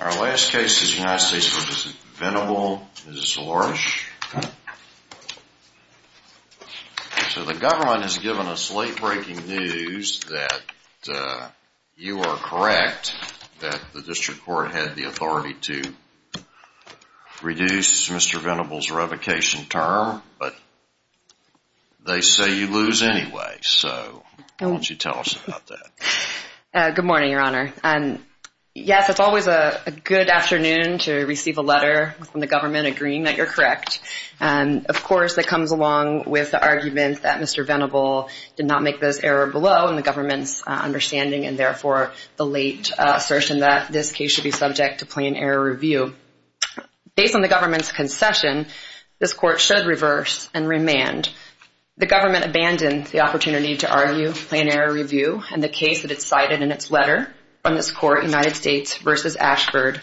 Our last case is United States v. Venable, Mrs. Lorsch. So the government has given us late-breaking news that you are correct that the district court had the authority to reduce Mr. Venable's revocation term, but they say you lose anyway, so why don't you tell us about that. Good morning, Your Honor. Yes, it's always a good afternoon to receive a letter from the government agreeing that you're correct. Of course, that comes along with the argument that Mr. Venable did not make this error below the government's understanding and therefore the late assertion that this case should be subject to plain error review. Based on the government's concession, this court should reverse and remand. The government abandoned the opportunity to argue plain error review, and the case that it cited in its letter from this court, United States v. Ashford,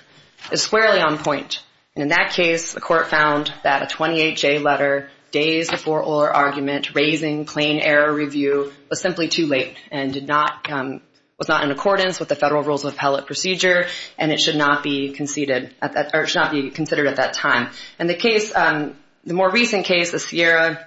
is squarely on point. In that case, the court found that a 28-J letter days before oral argument raising plain error review was simply too late and was not in accordance with the Federal Rules of Appellate Procedure, and it should not be conceded or should not be considered at that time. And the case, the more recent case, the Sierra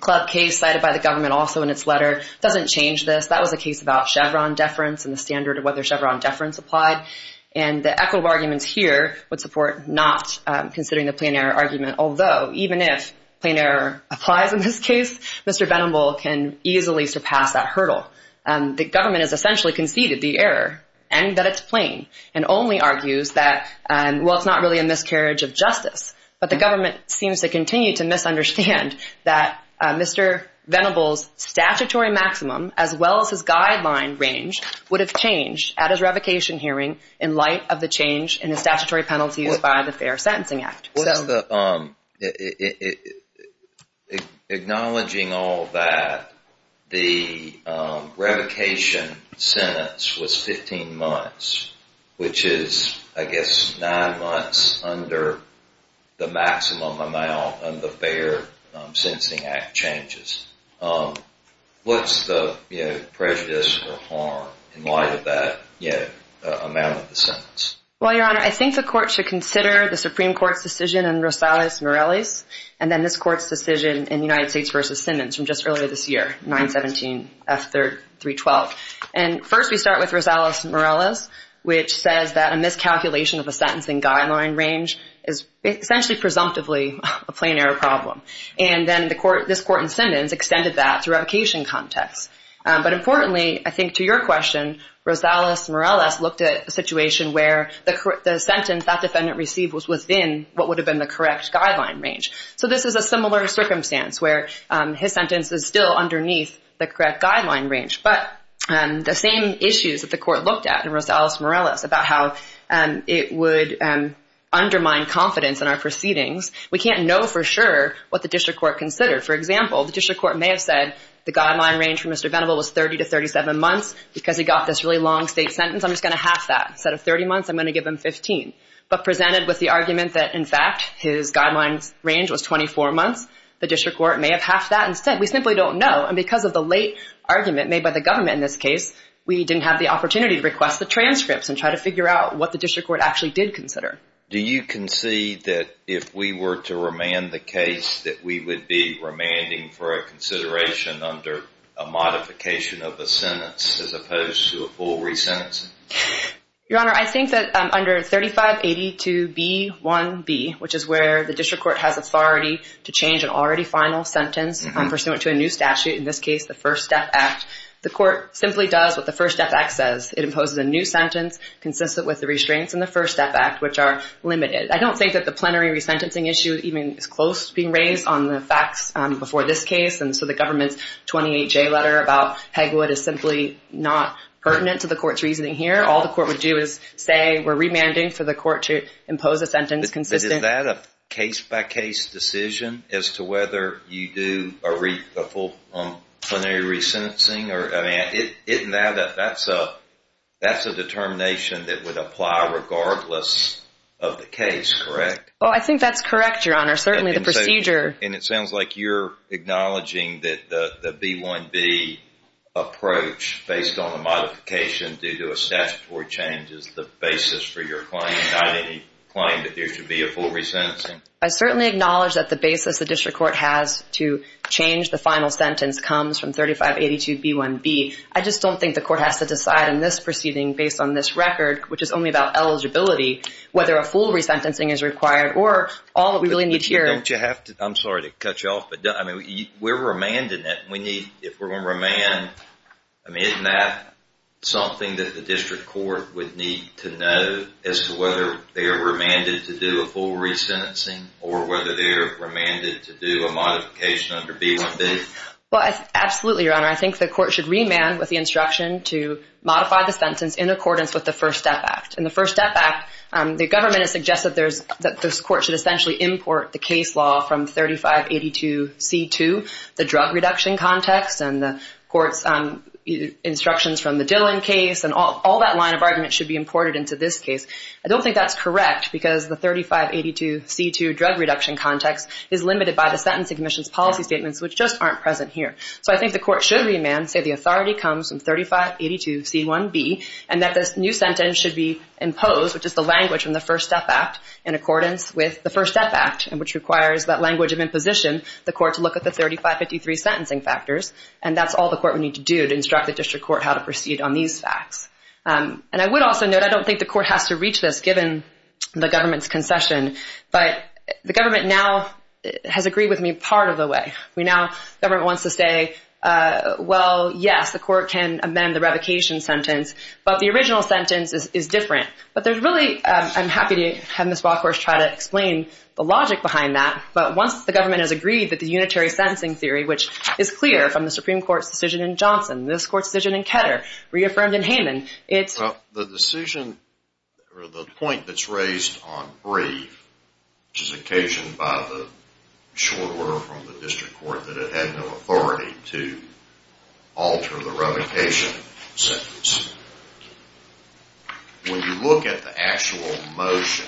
Club case cited by the government also in its letter, doesn't change this. That was a case about Chevron deference and the standard of whether Chevron deference applied, and the equitable arguments here would support not considering the plain error argument, although even if plain error applies in this case, Mr. Venable can easily surpass that hurdle. The government has essentially conceded the error and that it's plain and only argues that, well, it's not really a miscarriage of justice, but the government seems to continue to misunderstand that Mr. Venable's statutory maximum as well as his guideline range would have changed at his revocation hearing in light of the change in the statutory penalties by the Fair Sentencing Act. Acknowledging all that, the revocation sentence was 15 months, which is, I guess, nine months under the maximum amount of the Fair Sentencing Act changes. What's the prejudice or harm in light of that amount of the sentence? Well, Your Honor, I think the court should consider the Supreme Court's decision in Rosales-Morales and then this court's decision in United States v. Simmons from just earlier this year, 917F312. And first we start with Rosales-Morales, which says that a miscalculation of a sentencing guideline range is essentially presumptively a plain error problem. And then this court in Simmons extended that to revocation context. But importantly, I think to your question, Rosales-Morales looked at a situation where the sentence that defendant received was within what would have been the correct guideline range. So this is a similar circumstance where his sentence is still underneath the correct guideline range. But the same issues that the court looked at in Rosales-Morales about how it would undermine confidence in our proceedings, we can't know for sure what the district court considered. For example, the district court may have said the guideline range for Mr. Venable was 30 to 37 months. Because he got this really long state sentence, I'm just going to half that. Instead of 30 months, I'm going to give him 15. But presented with the argument that, in fact, his guideline range was 24 months, the district court may have halved that and said, we simply don't know. And because of the late argument made by the government in this case, we didn't have the opportunity to request the transcripts and try to figure out what the district court actually did consider. Do you concede that if we were to remand the case, that we would be remanding for a consideration under a modification of the sentence as opposed to a full resentencing? Your Honor, I think that under 3582B1B, which is where the district court has authority to change an already final sentence pursuant to a new statute, in this case the First Step Act, the court simply does what the First Step Act says. It imposes a new sentence consistent with the restraints in the First Step Act, which are limited. I don't think that the plenary resentencing issue even is close to being raised on the facts before this case. And so the government's 28-J letter about Pegwood is simply not pertinent to the court's reasoning here. All the court would do is say we're remanding for the court to impose a sentence consistent. Is that a case-by-case decision as to whether you do a full plenary resentencing? That's a determination that would apply regardless of the case, correct? I think that's correct, Your Honor. Certainly the procedure... I certainly acknowledge that the basis the district court has to change the final sentence comes from 3582B1B. I just don't think the court has to decide in this proceeding based on this record, which is only about eligibility, whether a full resentencing is required or all that we really need here... Don't you have to... I'm sorry to cut you off, but we're remanding it. If we're going to remand, isn't that something that the district court would need to know as to whether they're remanded to do a full resentencing or whether they're remanded to do a modification under B1B? Absolutely, Your Honor. I think the court should remand with the instruction to modify the sentence in accordance with the First Step Act. In the First Step Act, the government has suggested that this court should essentially import the case law from 3582C2, the drug reduction context and the court's instructions from the Dillon case, and all that line of argument should be imported into this case. I don't think that's correct because the 3582C2 drug reduction context is limited by the Sentencing Commission's policy statements, which just aren't present here. So I think the court should remand, say the authority comes from 3582C1B, and that this new sentence should be imposed, which is the language from the First Step Act in accordance with the First Step Act, which requires that language of imposition, the court to look at the 3553 sentencing factors, and that's all the court would need to do to instruct the district court how to proceed on these facts. And I would also note, I don't think the court has to reach this given the government's concession, but the government now has agreed with me part of the way. We now, the government wants to say, well, yes, the court can amend the revocation sentence, but the original sentence is different. But there's really, I'm happy to have Ms. Walkhorst try to explain the logic behind that, but once the government has agreed that the unitary sentencing theory, which is clear from the Supreme Court's decision in Johnson, this court's decision in Ketter, reaffirmed in Hayman, it's... The decision, or the point that's raised on brief, which is occasioned by the short order from the district court that it had no authority to alter the revocation sentence, when you look at the actual motion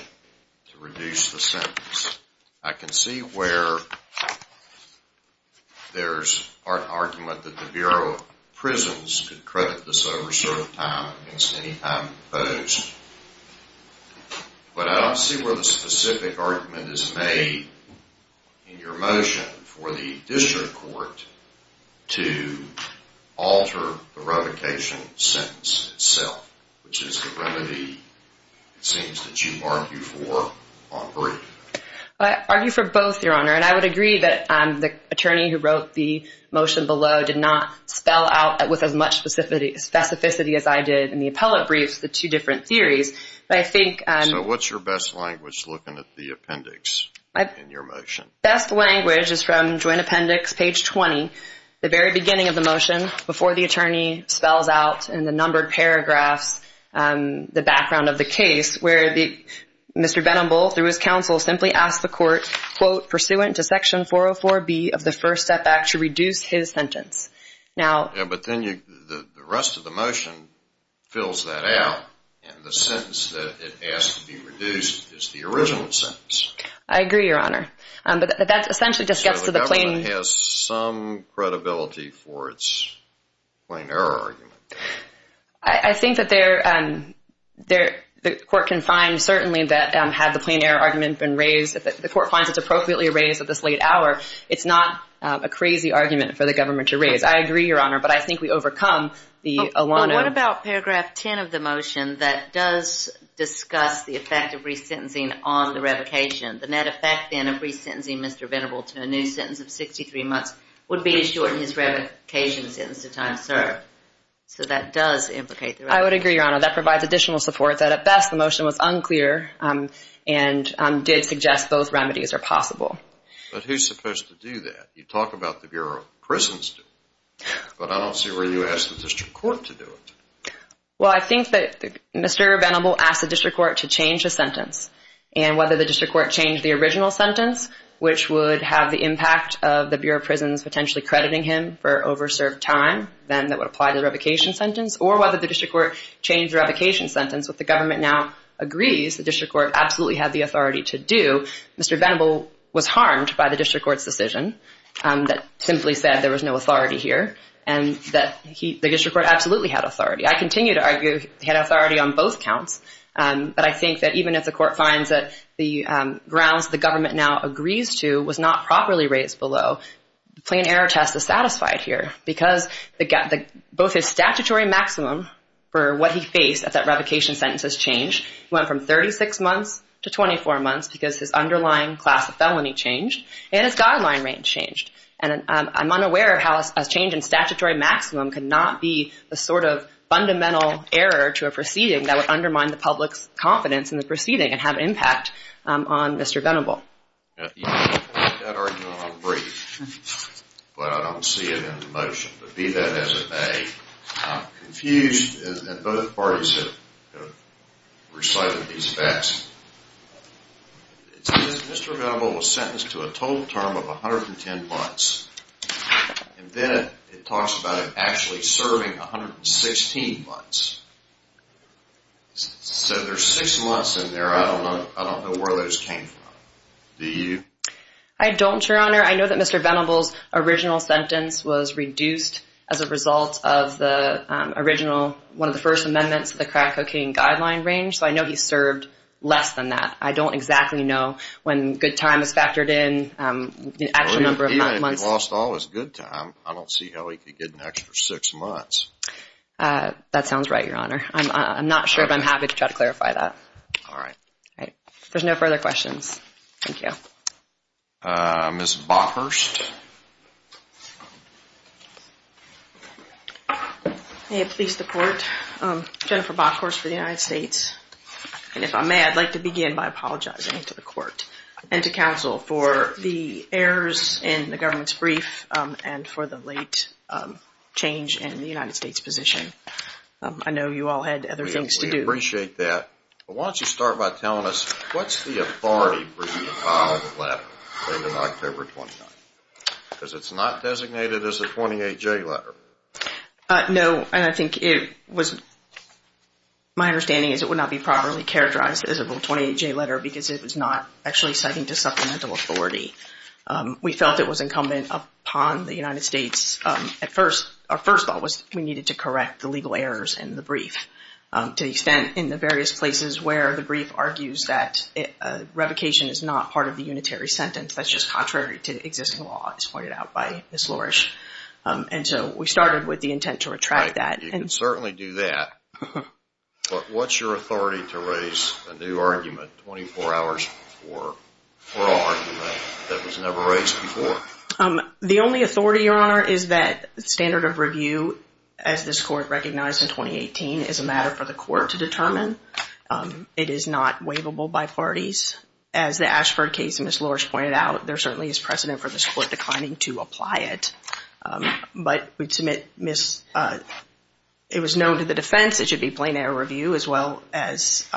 to reduce the sentence, I can see where there's an argument that the Bureau of Prisons could credit this over a certain time against any time proposed. But I don't see where the specific argument is made in your motion for the district court to alter the revocation sentence itself, which is the remedy, it seems, that you argue for on brief. I argue for both, Your Honor, and I would agree that the attorney who wrote the motion below did not spell out with as much specificity as I did in the appellate briefs the two different theories. But I think... So what's your best language looking at the appendix in your motion? Best language is from Joint Appendix, page 20, the very beginning of the motion, before the attorney spells out in the numbered paragraphs the background of the case, where Mr. Benamble, through his counsel, simply asked the court, quote, pursuant to Section 404B of the First Step Act, to reduce his sentence. But then the rest of the motion fills that out, and the sentence that it asked to be reduced is the original sentence. I agree, Your Honor, but that essentially just gets to the plain... So the government has some credibility for its plain error argument. I think that the court can find, certainly, that had the plain error argument been raised, if the court finds it's appropriately raised at this late hour, it's not a crazy argument for the government to raise. I agree, Your Honor, but I think we overcome the alone... What about paragraph 10 of the motion that does discuss the effect of resentencing on the revocation? The net effect, then, of resentencing Mr. Benamble to a new sentence of 63 months would be to shorten his revocation sentence to time served. So that does implicate... I would agree, Your Honor. That provides additional support that, at best, the motion was unclear and did suggest those remedies are possible. But who's supposed to do that? You talk about the Bureau of Prisons doing it, but I don't see where you ask the district court to do it. Well, I think that Mr. Benamble asked the district court to change the sentence, and whether the district court changed the original sentence, which would have the impact of the Bureau of Prisons potentially crediting him for over-served time, then that would apply to the revocation sentence, or whether the district court changed the revocation sentence. If the government now agrees the district court absolutely had the authority to do, Mr. Benamble was harmed by the district court's decision that simply said there was no authority here, and that the district court absolutely had authority. I continue to argue he had authority on both counts, but I think that even if the court finds that the grounds the government now agrees to was not properly raised below, the plain error test is satisfied here because both his statutory maximum for what he faced at that revocation sentence has changed. It went from 36 months to 24 months because his underlying class of felony changed and his guideline range changed. And I'm unaware of how a change in statutory maximum could not be the sort of fundamental error to a proceeding that would undermine the public's confidence in the proceeding and have an impact on Mr. Benamble. You can make that argument on the brief, but I don't see it in the motion. But be that as it may, I'm confused. And both parties have recited these facts. It says Mr. Benamble was sentenced to a total term of 110 months. And then it talks about him actually serving 116 months. So there's six months in there. I don't know where those came from. Do you? I don't, Your Honor. I know that Mr. Benamble's original sentence was reduced as a result of the original, one of the first amendments to the crack cocaine guideline range, so I know he served less than that. I don't exactly know when good time is factored in, the actual number of months. He lost all his good time. I don't see how he could get an extra six months. That sounds right, Your Honor. I'm not sure, but I'm happy to try to clarify that. All right. All right. If there's no further questions, thank you. Ms. Bockhorst. May it please the Court. Jennifer Bockhorst for the United States. And if I may, I'd like to begin by apologizing to the Court and to counsel for the errors in the government's brief and for the late change in the United States position. I know you all had other things to do. We appreciate that. But why don't you start by telling us, what's the authority for you to file the letter dated October 29? Because it's not designated as a 28-J letter. No, and I think it was my understanding is it would not be properly characterized as a 28-J letter because it was not actually citing to supplemental authority. We felt it was incumbent upon the United States. Our first thought was we needed to correct the legal errors in the brief to the extent in the various places where the brief argues that revocation is not part of the unitary sentence. That's just contrary to existing law, as pointed out by Ms. Lourish. And so we started with the intent to retract that. You can certainly do that. But what's your authority to raise a new argument 24 hours before for an argument that was never raised before? The only authority, Your Honor, is that standard of review, as this Court recognized in 2018, is a matter for the Court to determine. It is not waivable by parties. As the Ashford case, as Ms. Lourish pointed out, there certainly is precedent for this Court declining to apply it. But it was known to the defense it should be plain error review as well as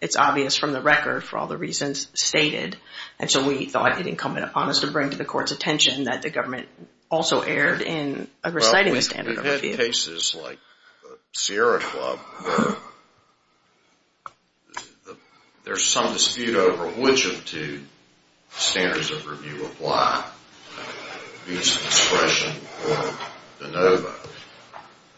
it's obvious from the record for all the reasons stated. And so we thought it incumbent upon us to bring to the Court's attention that the government also erred in reciting the standard of review. Well, we've had cases like the Sierra Club where there's some dispute over which of two standards of review apply, abuse of discretion or de novo.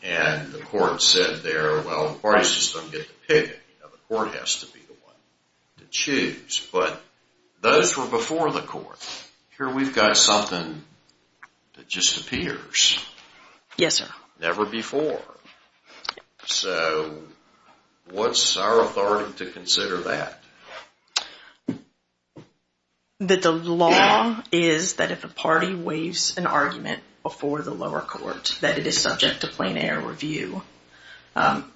And the Court said there, well, the parties just don't get to pick it. The Court has to be the one to choose. But those were before the Court. Here we've got something that just appears. Yes, sir. Never before. So what's our authority to consider that? That the law is that if a party waives an argument before the lower court that it is subject to plain error review.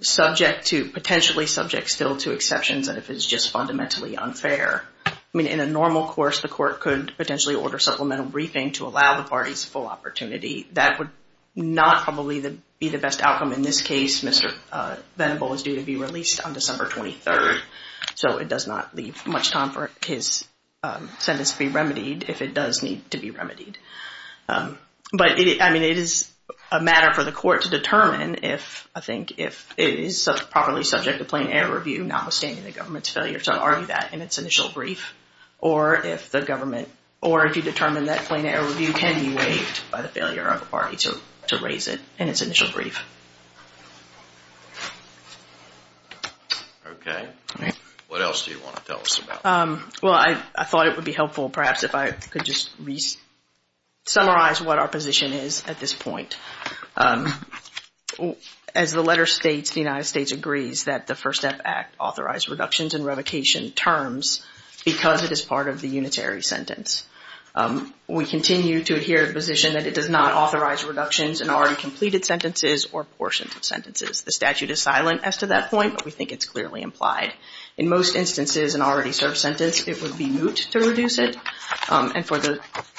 Subject to, potentially subject still to exceptions and if it's just fundamentally unfair. I mean, in a normal course, the Court could potentially order supplemental briefing to allow the parties full opportunity. That would not probably be the best outcome in this case. Mr. Venable is due to be released on December 23rd. So it does not leave much time for his sentence to be remedied if it does need to be remedied. But, I mean, it is a matter for the Court to determine if, I think, if it is properly subject to plain error review, notwithstanding the government's failure to argue that in its initial brief. Or if the government, or if you determine that plain error review can be waived by the failure of the party to raise it in its initial brief. Okay. What else do you want to tell us about? Well, I thought it would be helpful, perhaps, if I could just summarize what our position is at this point. As the letter states, the United States agrees that the First Step Act authorized reductions in revocation terms because it is part of the unitary sentence. We continue to adhere to the position that it does not authorize reductions in already completed sentences or portions of sentences. The statute is silent as to that point, but we think it's clearly implied. In most instances, an already served sentence, it would be moot to reduce it. And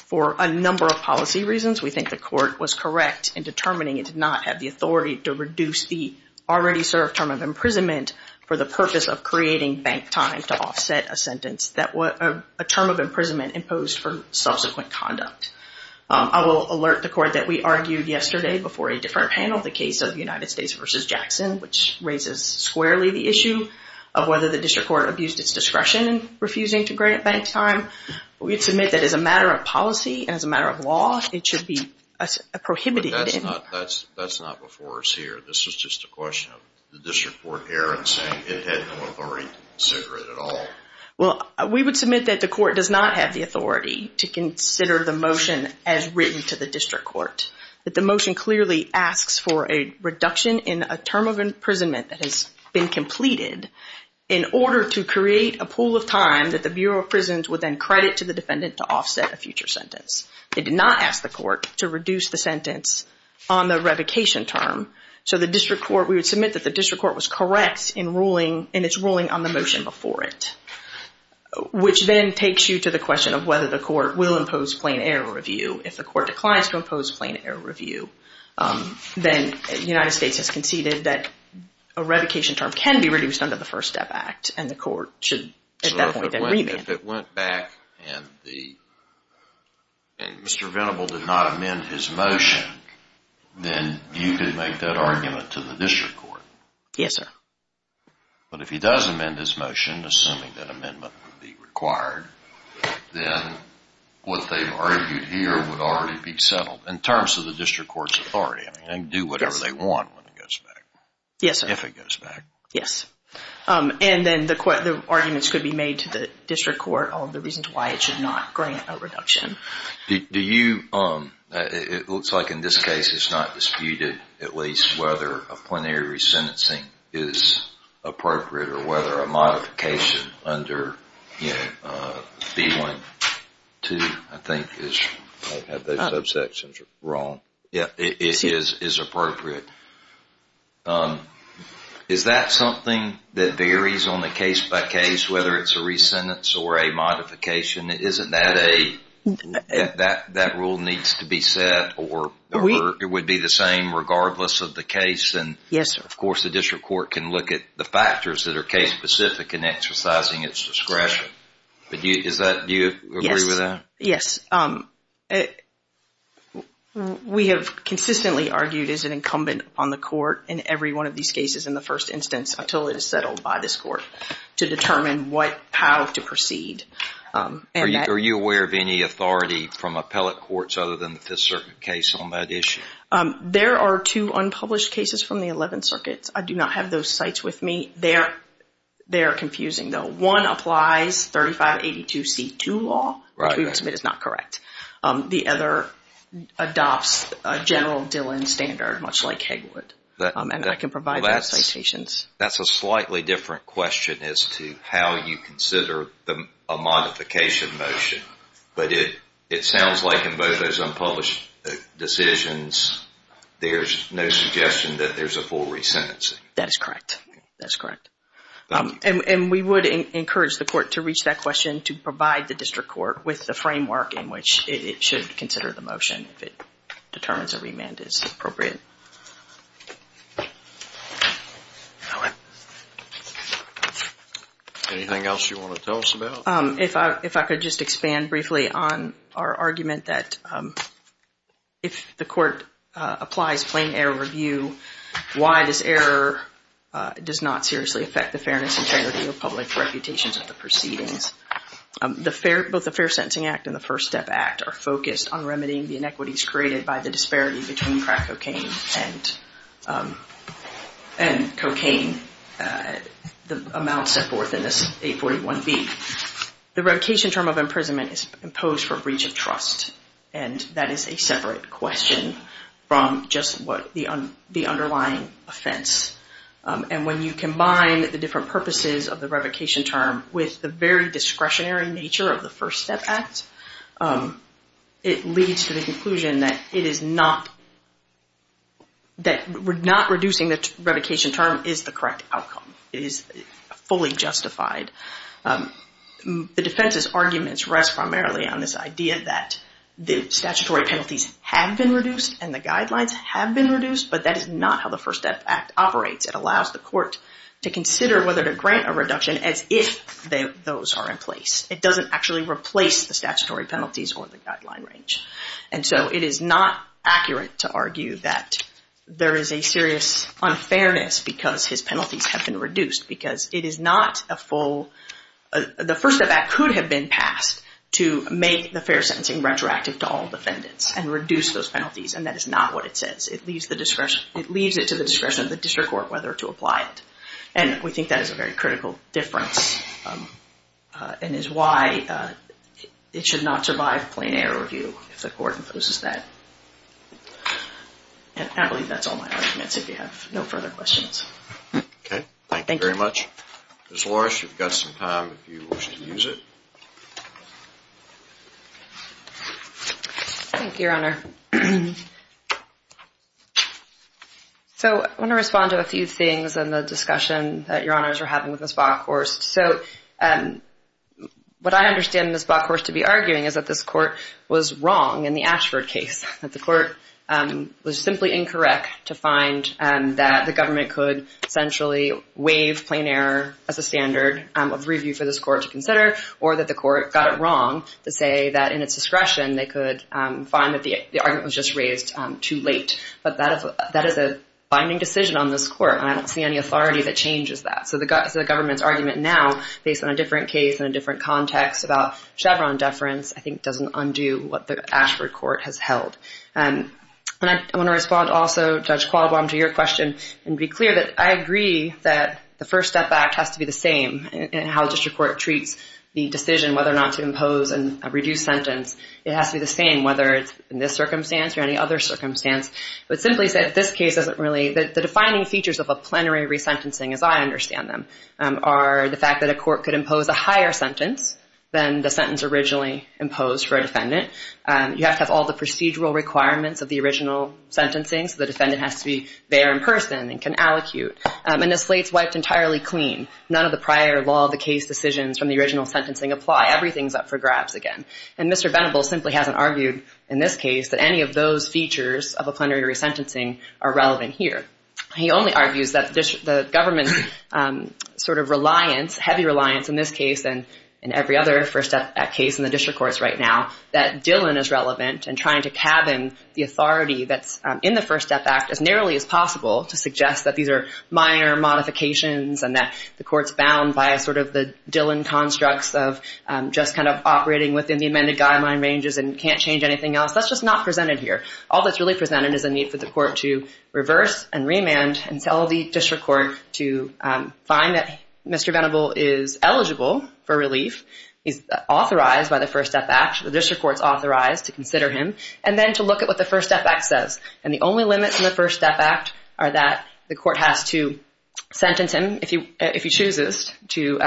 for a number of policy reasons, we think the Court was correct in determining it did not have the authority to reduce the already served term of imprisonment for the purpose of creating bank time to offset a sentence. A term of imprisonment imposed for subsequent conduct. I will alert the Court that we argued yesterday before a different panel the case of the United States v. Jackson, which raises squarely the issue of whether the District Court abused its discretion in refusing to grant bank time. We submit that as a matter of policy and as a matter of law, it should be prohibited. But that's not before us here. This is just a question of the District Court error in saying it had no authority to consider it at all. Well, we would submit that the Court does not have the authority to consider the motion as written to the District Court. That the motion clearly asks for a reduction in a term of imprisonment that has been completed in order to create a pool of time that the Bureau of Prisons would then credit to the defendant to offset a future sentence. It did not ask the Court to reduce the sentence on the revocation term. So the District Court, we would submit that the District Court was correct in its ruling on the motion before it, which then takes you to the question of whether the Court will impose plain error review. If the Court declines to impose plain error review, then the United States has conceded that a revocation term can be reduced under the First Step Act, and the Court should at that point then remand. So if it went back and Mr. Venable did not amend his motion, then you could make that argument to the District Court? Yes, sir. But if he does amend his motion, assuming that amendment would be required, then what they've argued here would already be settled in terms of the District Court's authority. I mean, they can do whatever they want when it goes back. Yes, sir. If it goes back. Yes. And then the arguments could be made to the District Court on the reasons why it should not grant a reduction. Do you, it looks like in this case it's not disputed at least whether a plenary re-sentencing is appropriate or whether a modification under B.1.2, I think, if I have those subsections wrong, is appropriate. Is that something that varies on the case-by-case, whether it's a re-sentence or a modification? Isn't that a, that rule needs to be set or it would be the same regardless of the case? Yes, sir. And, of course, the District Court can look at the factors that are case-specific in exercising its discretion. Is that, do you agree with that? Yes. Yes. We have consistently argued as an incumbent on the court in every one of these cases in the first instance until it is settled by this court to determine what, how to proceed. Are you aware of any authority from appellate courts other than the Fifth Circuit case on that issue? There are two unpublished cases from the Eleventh Circuit. I do not have those cites with me. They are confusing, though. One applies 3582C2 law, which we would submit is not correct. The other adopts a General Dillon standard, much like Hegwood. And I can provide those citations. That's a slightly different question as to how you consider a modification motion. But it sounds like in both those unpublished decisions, there's no suggestion that there's a full resentencing. That is correct. That's correct. And we would encourage the court to reach that question to provide the District Court with the framework in which it should consider the motion if it determines a remand is appropriate. Anything else you want to tell us about? Well, if I could just expand briefly on our argument that if the court applies plain error review, why this error does not seriously affect the fairness and integrity of public reputations of the proceedings. Both the Fair Sentencing Act and the First Step Act are focused on remedying the inequities created by the disparity between crack cocaine and cocaine, the amount set forth in this 841B. The revocation term of imprisonment is imposed for breach of trust, and that is a separate question from just the underlying offense. And when you combine the different purposes of the revocation term with the very discretionary nature of the First Step Act, it leads to the conclusion that not reducing the revocation term is the correct outcome, is fully justified. The defense's arguments rest primarily on this idea that the statutory penalties have been reduced and the guidelines have been reduced, but that is not how the First Step Act operates. It allows the court to consider whether to grant a reduction as if those are in place. It doesn't actually replace the statutory penalties or the guideline range. And so it is not accurate to argue that there is a serious unfairness because his penalties have been reduced, because it is not a full... The First Step Act could have been passed to make the fair sentencing retroactive to all defendants and reduce those penalties, and that is not what it says. It leaves it to the discretion of the district court whether to apply it. And we think that is a very critical difference and is why it should not survive plain-air review if the court imposes that. And I believe that's all my arguments. If you have no further questions. Okay. Thank you very much. Ms. Loris, you've got some time if you wish to use it. Thank you, Your Honor. So I want to respond to a few things in the discussion that Your Honors are having with Ms. Bockhorst. So what I understand Ms. Bockhorst to be arguing is that this court was wrong in the Ashford case, that the court was simply incorrect to find that the government could essentially waive plain-air as a standard of review for this court to consider, or that the court got it wrong to say that in its discretion they could find that the argument was just raised too late. But that is a binding decision on this court, and I don't see any authority that changes that. So the government's argument now, based on a different case and a different context about Chevron deference, I think doesn't undo what the Ashford court has held. And I want to respond also, Judge Qualbom, to your question and be clear that I agree that the First Step Act has to be the same in how a district court treats the decision whether or not to impose a reduced sentence. It has to be the same whether it's in this circumstance or any other circumstance. But simply said, this case doesn't really... The defining features of a plenary resentencing, as I understand them, are the fact that a court could impose a higher sentence than the sentence originally imposed for a defendant. You have to have all the procedural requirements of the original sentencing, so the defendant has to be there in person and can allocute. And the slate's wiped entirely clean. None of the prior law of the case decisions from the original sentencing apply. Everything's up for grabs again. And Mr. Venable simply hasn't argued in this case that any of those features of a plenary resentencing are relevant here. He only argues that the government's sort of reliance, heavy reliance in this case and in every other First Step Act case in the district courts right now, that Dillon is relevant in trying to cabin the authority that's in the First Step Act as narrowly as possible to suggest that these are minor modifications and that the court's bound by sort of the Dillon constructs of just kind of operating within the amended guideline ranges and can't change anything else. That's just not presented here. All that's really presented is a need for the court to reverse and remand and tell the district court to find that Mr. Venable is eligible for relief, is authorized by the First Step Act, the district court's authorized to consider him, and then to look at what the First Step Act says. And the only limits in the First Step Act are that the court has to sentence him, if he chooses to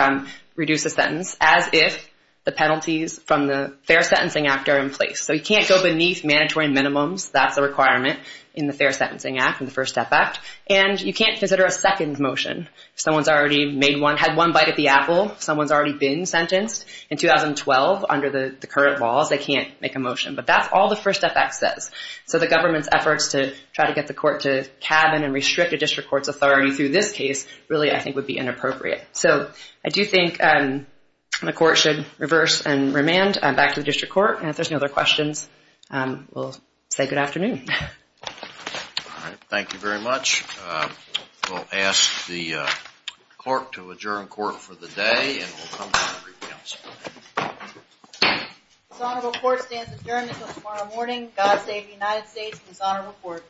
reduce the sentence, as if the penalties from the Fair Sentencing Act are in place. So he can't go beneath mandatory minimums. That's a requirement in the Fair Sentencing Act, in the First Step Act. And you can't consider a second motion. If someone's already made one, had one bite at the apple, someone's already been sentenced in 2012 under the current laws, they can't make a motion. But that's all the First Step Act says. So the government's efforts to try to get the court to cabin and restrict a district court's authority through this case really, I think, would be inappropriate. So I do think the court should reverse and remand back to the district court. And if there's no other questions, we'll say good afternoon. All right, thank you very much. We'll ask the clerk to adjourn court for the day, and we'll come back for council. Dishonorable court stands adjourned until tomorrow morning. God save the United States and dishonorable court.